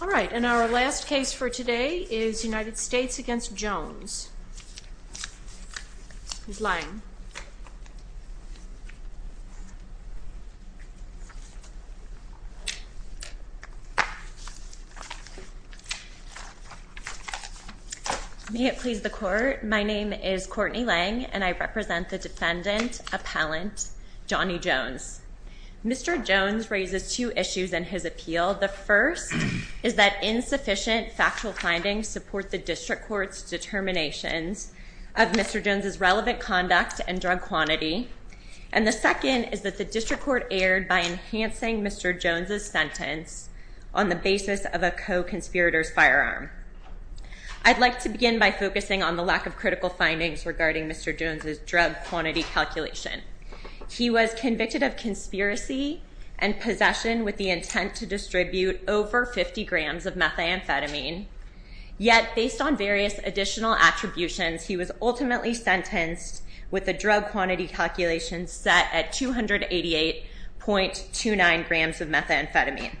All right, and our last case for today is United States v. Jones v. Lange. May it please the Court, my name is Courtney Lange, and I represent the defendant, appellant Johnny Jones. Mr. Jones raises two issues in his appeal. The first is that insufficient factual findings support the district court's determinations of Mr. Jones's relevant conduct and drug quantity, and the second is that the district court erred by enhancing Mr. Jones's sentence on the basis of a co-conspirator's firearm. I'd like to begin by focusing on the lack of critical findings regarding Mr. Jones's drug quantity calculation. He was convicted of conspiracy and possession with the intent to distribute over 50 grams of methamphetamine, yet based on various additional attributions, he was ultimately sentenced with a drug quantity calculation set at 288.29 grams of methamphetamine.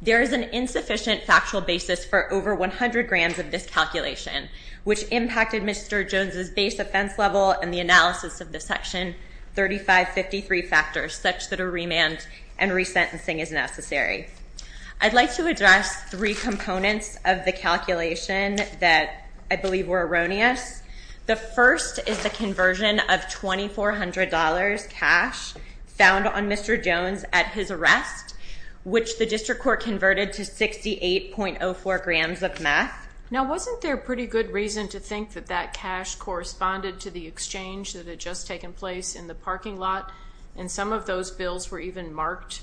There is an insufficient factual basis for over 100 grams of this calculation, which impacted Mr. Jones's base offense level and the analysis of the Section 3553 factors such that a remand and resentencing is necessary. I'd like to address three components of the calculation that I believe were erroneous. The first is the conversion of $2,400 cash found on Mr. Jones at his arrest, which the district court converted to 68.04 grams of meth. Now wasn't there pretty good reason to think that that cash corresponded to the exchange that had just taken place in the parking lot? And some of those bills were even marked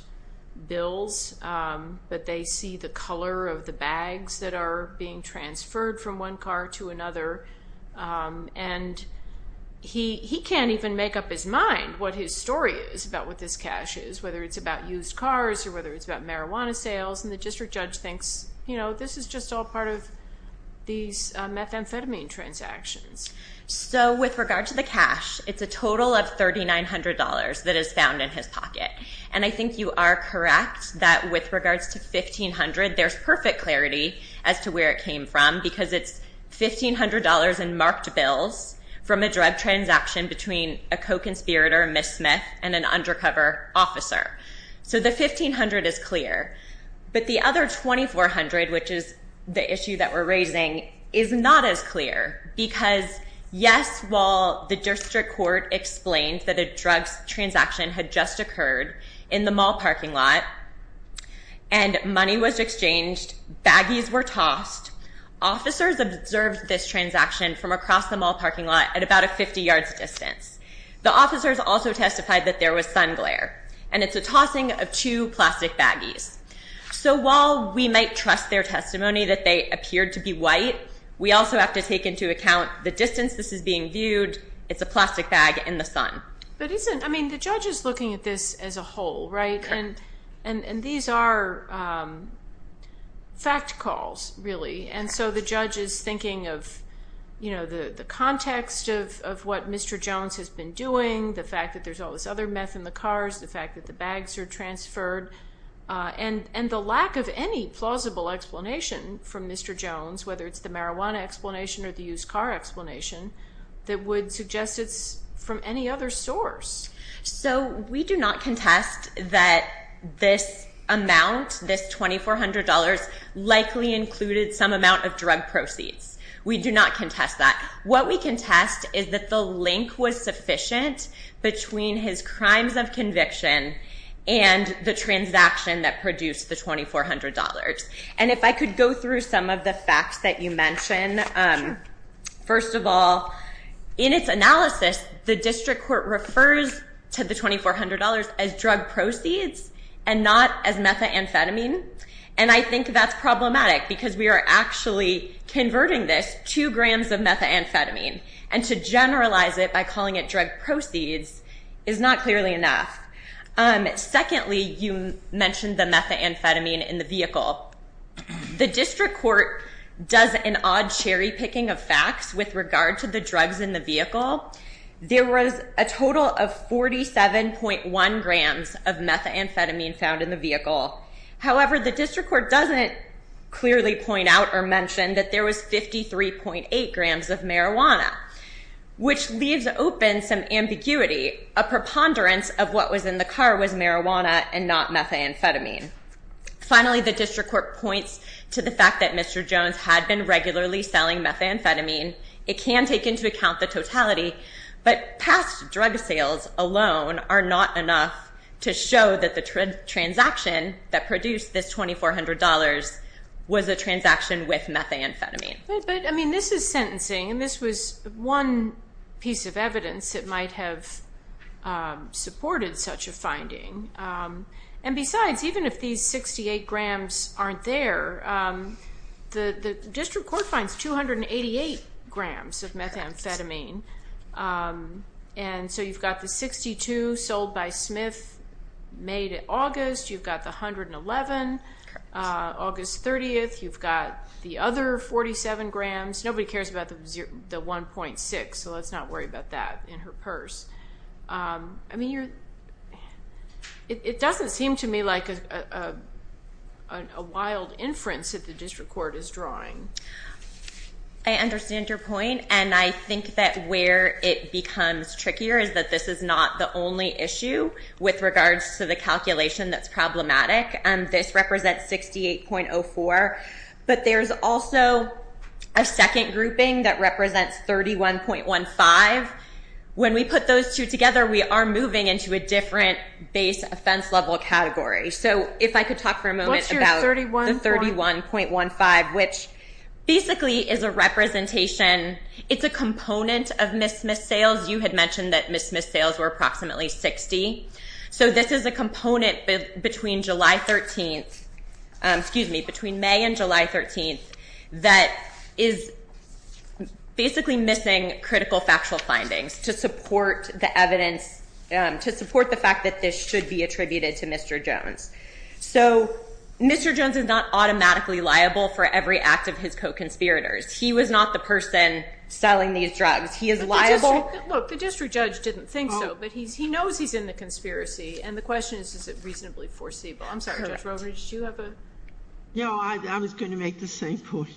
bills, but they see the color of the bags that are being transferred from one car to another, and he can't even make up his mind what his story is about what this cash is, whether it's about used cars or whether it's about marijuana sales, and the district judge thinks, you know, this is just all part of these methamphetamine transactions. So with regard to the cash, it's a total of $3,900 that is found in his pocket. And I think you are correct that with regards to $1,500, there's perfect clarity as to where it came from, because it's $1,500 in marked bills from a drug transaction between a co-conspirator, a miss smith, and an undercover officer. So the $1,500 is clear, but the other $2,400, which is the issue that we're raising, is not as clear, because yes, while the district court explained that a drug transaction had just occurred in the mall parking lot, and money was exchanged, baggies were tossed, officers observed this transaction from across the mall parking lot at about a 50 yards distance. The officers also testified that there was sun glare, and it's a tossing of two plastic baggies. So while we might trust their testimony that they appeared to be white, we also have to take into account the distance this is being viewed. It's a plastic bag in the sun. But isn't, I mean, the judge is looking at this as a whole, right? And these are fact calls, really. And so the judge is thinking of, you know, the context of what Mr. Jones has been doing, the fact that there's all this other meth in the cars, the fact that the bags are transferred, and the lack of any plausible explanation from Mr. Jones, whether it's the marijuana explanation or the used car explanation, that would suggest it's from any other source. So we do not contest that this amount, this $2,400, likely included some amount of drug proceeds. We do not contest that. What we contest is that the link was sufficient between his crimes of conviction and the transaction that produced the $2,400. And if I could go through some of the facts that you mentioned, first of all, in its analysis, the district court refers to the $2,400 as drug proceeds and not as methamphetamine. And I think that's problematic because we are actually converting this to grams of methamphetamine. And to generalize it by calling it drug proceeds is not clearly enough. Secondly, you mentioned the methamphetamine in the vehicle. The district court does an odd cherry picking of facts with regard to the drugs in the vehicle. There was a total of 47.1 grams of methamphetamine found in the vehicle. However, the district court doesn't clearly point out or mention that there was 53.8 grams of marijuana, which leaves open some ambiguity, a preponderance of what was in the car was marijuana and not methamphetamine. Finally, the district court points to the fact that Mr. Jones had been regularly selling methamphetamine. It can take into account the totality, but past drug sales alone are not enough to show that the transaction that produced this $2,400 was a transaction with methamphetamine. This is sentencing and this was one piece of evidence that might have supported such a finding. And besides, even if these 68 grams aren't there, the district court finds 288 grams of methamphetamine. And so you've got the 62 sold by Smith May to August. You've got the 111 August 30th. You've got the other 47 grams. Nobody cares about the 1.6, so let's not worry about that in her purse. I mean, it doesn't seem to me like a wild inference that the district court is drawing. I understand your point, and I think that where it becomes trickier is that this is not the only issue with regards to the calculation that's problematic. This represents 68.04, but there's also a second grouping that represents 31.15. When we put those two together, we are moving into a different base offense level category. So if I could talk for a moment about the 31.15, which basically is a representation. It's a component of Miss Smith's sales. You had mentioned that Miss Smith's sales were approximately 60. So this is a component between May and July 13th that is basically missing critical factual findings to support the fact that this should be attributed to Mr. Jones. So Mr. Jones is not automatically liable for every act of his co-conspirators. He was not the person selling these drugs. He is liable- And the question is, is it reasonably foreseeable? I'm sorry, Judge Roland, did you have a- No, I was going to make the same point.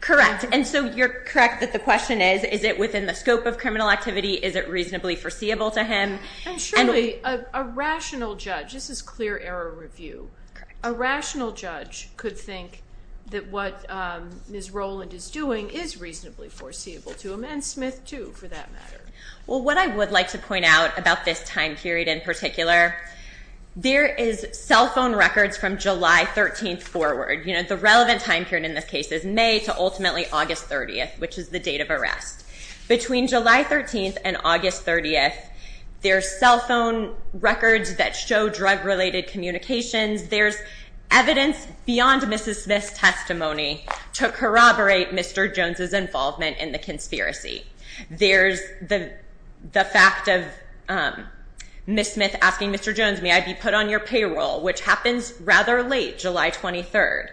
Correct. And so you're correct that the question is, is it within the scope of criminal activity? Is it reasonably foreseeable to him? And surely, a rational judge, this is clear error review. A rational judge could think that what Miss Roland is doing is reasonably foreseeable to him, and Smith too, for that matter. Well, what I would like to point out about this time period in particular, there is cell phone records from July 13th forward. The relevant time period in this case is May to ultimately August 30th, which is the date of arrest. Between July 13th and August 30th, there's cell phone records that show drug-related communications. There's evidence beyond Mrs. Smith's testimony to corroborate Mr. Jones's involvement in the conspiracy. There's the fact of Miss Smith asking Mr. Jones, may I be put on your payroll, which happens rather late, July 23rd.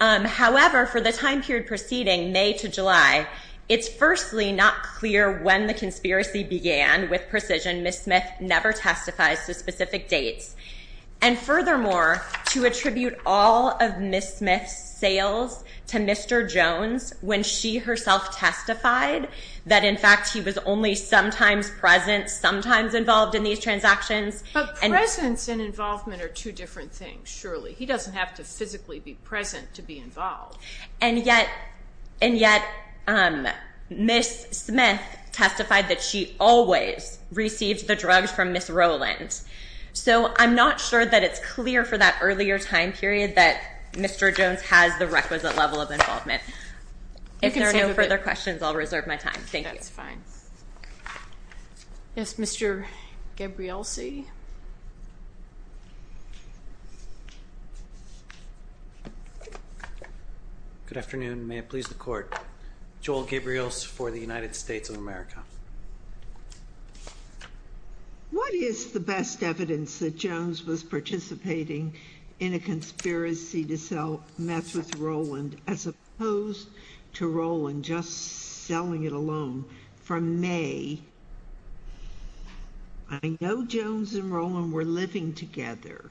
However, for the time period preceding May to July, it's firstly not clear when the conspiracy began with precision. Miss Smith never testifies to specific dates. And furthermore, to attribute all of Miss Smith's sales to Mr. Jones when she herself testified that in fact he was only sometimes present, sometimes involved in these transactions. And- But presence and involvement are two different things, surely. He doesn't have to physically be present to be involved. And yet, Miss Smith testified that she always received the drugs from Miss Roland. So, I'm not sure that it's clear for that earlier time period that Mr. Jones has the requisite level of involvement. If there are no further questions, I'll reserve my time. Thank you. That's fine. Yes, Mr. Gabrielsi. Good afternoon. May it please the court. Joel Gabriels for the United States of America. What is the best evidence that Jones was participating in a conspiracy to sell meth with Roland as opposed to Roland just selling it alone from May? I know Jones and Roland were living together,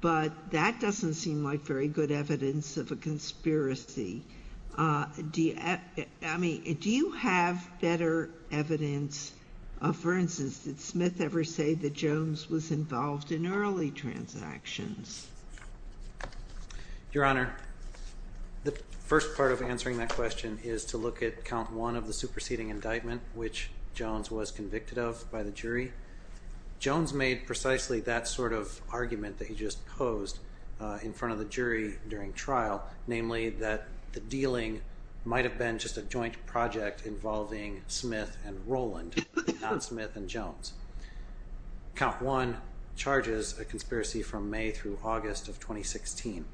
but that doesn't seem like very good evidence of a conspiracy. Do you have better evidence, for instance, did Smith ever say that Jones was involved in early transactions? Your Honor, the first part of answering that question is to look at count one of the superseding indictment, which Jones was convicted of by the jury. Jones made precisely that sort of argument that he just posed in front of the jury during trial, namely that the dealing might have been just a joint project involving Smith and Roland, not Smith and Jones. Count one charges a conspiracy from May through August of 2016.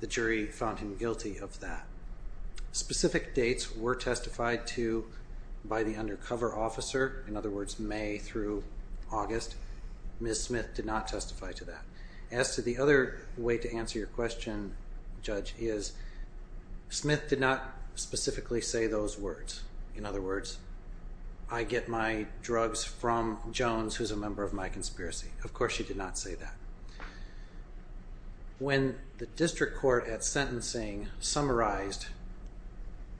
The jury found him guilty of that. Specific dates were testified to by the undercover officer. In other words, May through August. Ms. Smith did not testify to that. As to the other way to answer your question, Judge, is Smith did not specifically say those words. In other words, I get my drugs from Jones, who's a member of my conspiracy. Of course, she did not say that. When the district court at sentencing summarized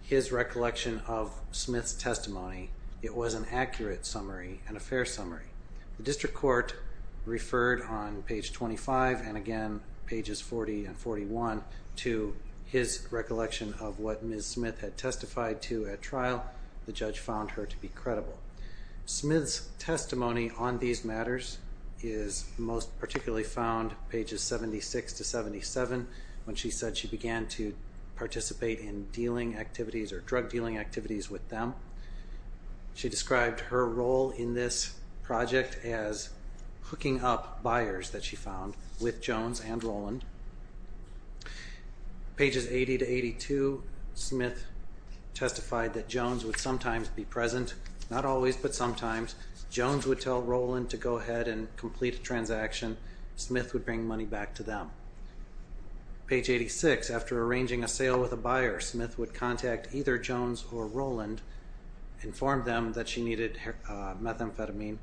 his recollection of Smith's testimony, it was an accurate summary and a fair summary. The district court referred on page 25 and again pages 40 and 41 to his recollection of what Ms. Smith had testified to at trial. The judge found her to be credible. Smith's testimony on these matters is most particularly found pages 76 to 77, when she said she began to participate in dealing activities or drug dealing activities with them. She described her role in this project as hooking up buyers that she found with Jones and Roland. Pages 80 to 82, Smith testified that Jones would sometimes be present, not always, but sometimes. Jones would tell Roland to go ahead and complete a transaction. Smith would bring money back to them. Page 86, after arranging a sale with a buyer, Smith would contact either Jones or Roland, inform them that she needed methamphetamine,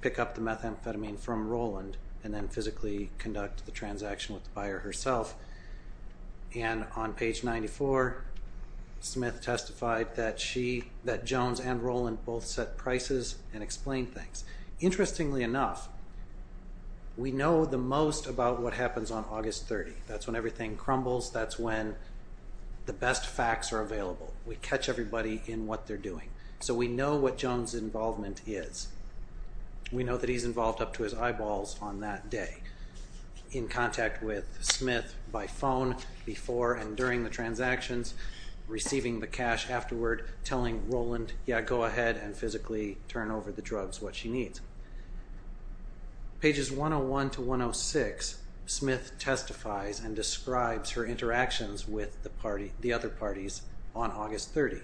pick up the methamphetamine from Roland, and then physically conduct the transaction with the buyer herself. And on page 94, Smith testified that Jones and Roland both set prices and explained things. Interestingly enough, we know the most about what happens on August 30. That's when everything crumbles. That's when the best facts are available. We catch everybody in what they're doing. So we know what Jones' involvement is. We know that he's involved up to his eyeballs on that day, in contact with Smith by phone before and during the transactions, receiving the cash afterward, telling Roland, yeah, go ahead and physically turn over the drugs, what she needs. Pages 101 to 106, Smith testifies and describes her interactions with the other parties on August 30.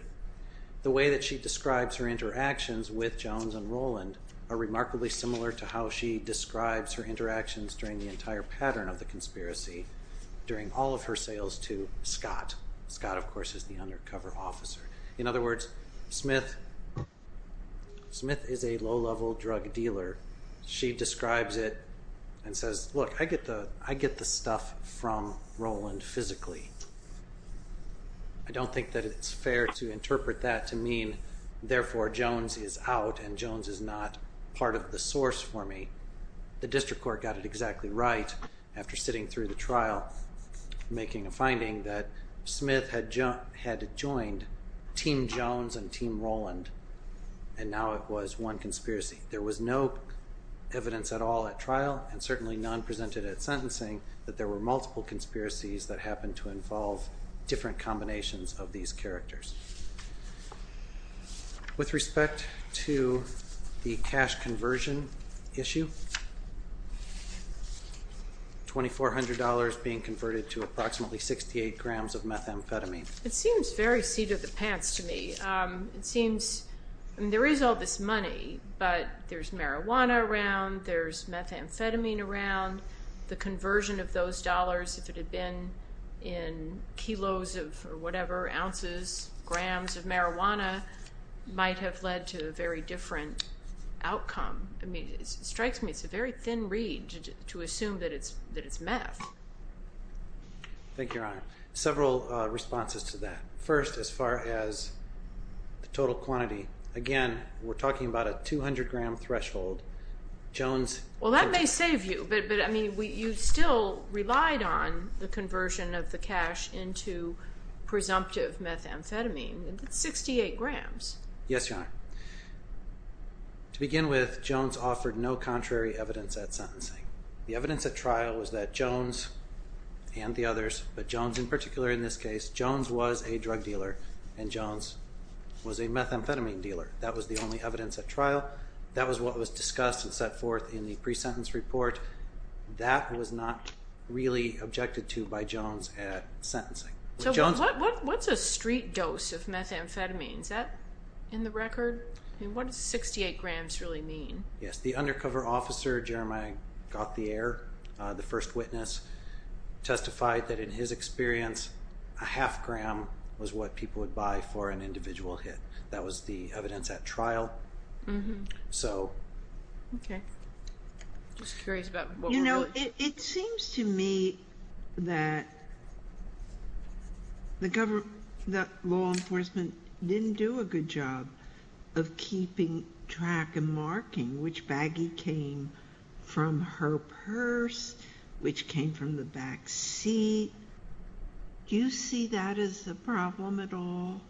The way that she describes her interactions with Jones and Roland are remarkably similar to how she describes her interactions during the entire pattern of the conspiracy during all of her sales to Scott. Scott, of course, is the undercover officer. In other words, Smith is a low-level drug dealer. She describes it and says, look, I get the stuff from Roland physically. I don't think that it's fair to interpret that to mean, therefore, Jones is out and Jones is not part of the source for me. The district court got it exactly right after sitting through the trial, making a finding that Smith had joined Team Jones and Team Roland, and now it was one conspiracy. There was no evidence at all at trial, and certainly none presented at sentencing, that there were multiple conspiracies that happened to involve different combinations of these characters. With respect to the cash conversion issue, $2,400 being converted to approximately 68 grams of methamphetamine. It seems very seat of the pants to me. It seems there is all this money, but there's marijuana around, there's methamphetamine around. The conversion of those dollars, if it had been in kilos or whatever, ounces, grams of marijuana, might have led to a very different outcome. It strikes me it's a very thin reed to assume that it's meth. Thank you, Your Honor. Several responses to that. First, as far as the total quantity, again, we're talking about a 200-gram threshold. Well, that may save you, but you still relied on the conversion of the cash into presumptive methamphetamine. It's 68 grams. Yes, Your Honor. To begin with, Jones offered no contrary evidence at sentencing. The evidence at trial was that Jones and the others, but Jones in particular in this case, Jones was a drug dealer and Jones was a methamphetamine dealer. That was the only evidence at trial. That was what was discussed and set forth in the pre-sentence report. That was not really objected to by Jones at sentencing. What's a street dose of methamphetamine? Is that in the record? What does 68 grams really mean? Yes, the undercover officer, Jeremiah Gauthier, the first witness, testified that in his experience, a half gram was what people would buy for an individual hit. That was the evidence at trial. It seems to me that law enforcement didn't do a good job of keeping track and marking which baggie came from her purse, which came from the back seat. Do you see that as a problem at all?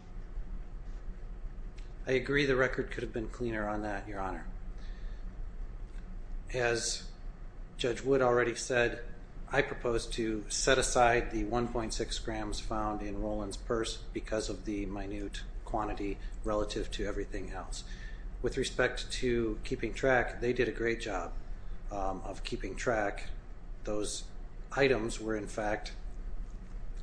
I agree the record could have been cleaner on that, Your Honor. As Judge Wood already said, I propose to set aside the 1.6 grams found in Roland's purse because of the minute quantity relative to everything else. With respect to keeping track, they did a great job of keeping track. Those items were, in fact,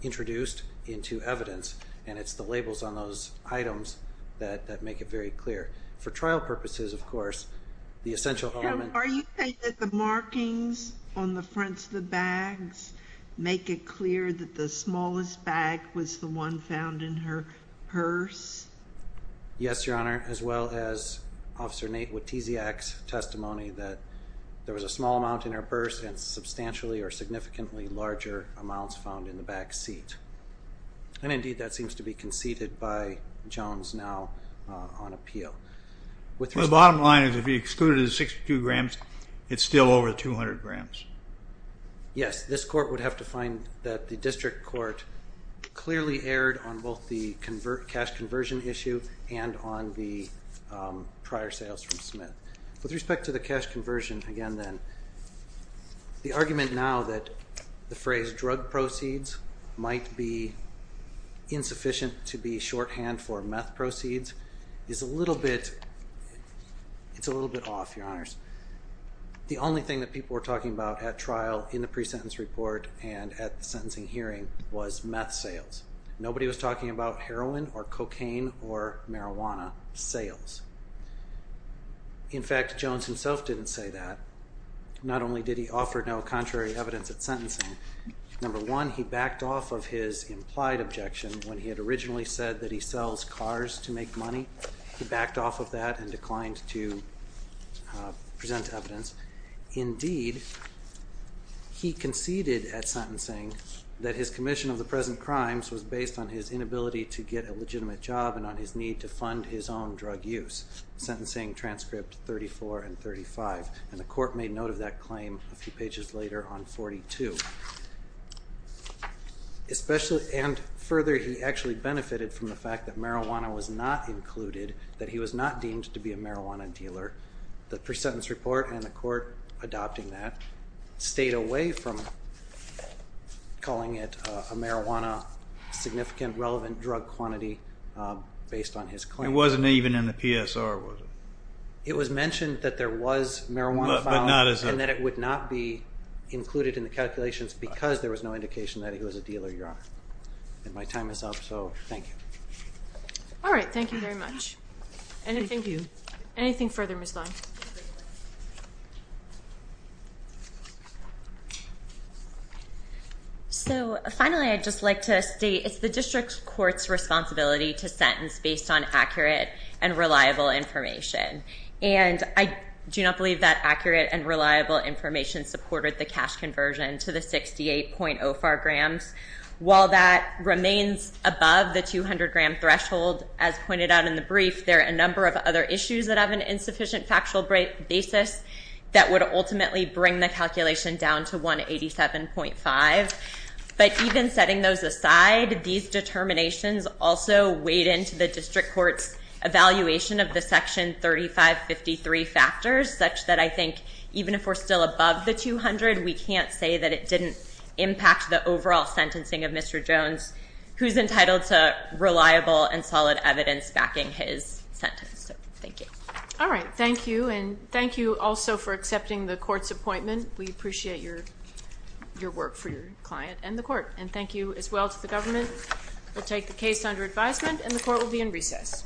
introduced into evidence, and it's the labels on those items that make it very clear. For trial purposes, of course, the essential element— Are you saying that the markings on the fronts of the bags make it clear that the smallest bag was the one found in her purse? Yes, Your Honor, as well as Officer Nate Witeziak's testimony that there was a small amount in her purse and substantially or significantly larger amounts found in the back seat. Indeed, that seems to be conceded by Jones now on appeal. The bottom line is if you excluded the 62 grams, it's still over 200 grams. Yes, this Court would have to find that the District Court clearly erred on both the cash conversion issue and on the prior sales from Smith. With respect to the cash conversion, again, then, the argument now that the phrase drug proceeds might be insufficient to be shorthand for meth proceeds is a little bit off, Your Honors. The only thing that people were talking about at trial in the pre-sentence report and at the sentencing hearing was meth sales. Nobody was talking about heroin or cocaine or marijuana sales. In fact, Jones himself didn't say that. Not only did he offer no contrary evidence at sentencing, number one, he backed off of his implied objection when he had originally said that he sells cars to make money. He backed off of that and declined to present evidence. Indeed, he conceded at sentencing that his commission of the present crimes was based on his inability to get a legitimate job and on his need to fund his own drug use, sentencing transcript 34 and 35. And the Court made note of that claim a few pages later on 42. And further, he actually benefited from the fact that marijuana was not included, that he was not deemed to be a marijuana dealer. The pre-sentence report and the Court adopting that stayed away from calling it a marijuana significant relevant drug quantity based on his claim. It wasn't even in the PSR, was it? It was mentioned that there was marijuana found and that it would not be included in the calculations because there was no indication that he was a dealer, Your Honor. And my time is up, so thank you. All right, thank you very much. Thank you. Anything further, Ms. Long? So finally, I'd just like to state it's the District Court's responsibility to sentence based on accurate and reliable information. And I do not believe that accurate and reliable information supported the cash conversion to the 68.04 grams. While that remains above the 200-gram threshold, as pointed out in the brief, there are a number of other issues that have an insufficient factual basis that would ultimately bring the calculation down to 187.5. But even setting those aside, these determinations also weighed into the District Court's evaluation of the Section 3553 factors such that I think even if we're still above the 200, we can't say that it didn't impact the overall sentencing of Mr. Jones, who's entitled to reliable and solid evidence backing his sentence. So thank you. All right, thank you. And thank you also for accepting the Court's appointment. We appreciate your work for your client and the Court. And thank you as well to the government. We'll take the case under advisement, and the Court will be in recess.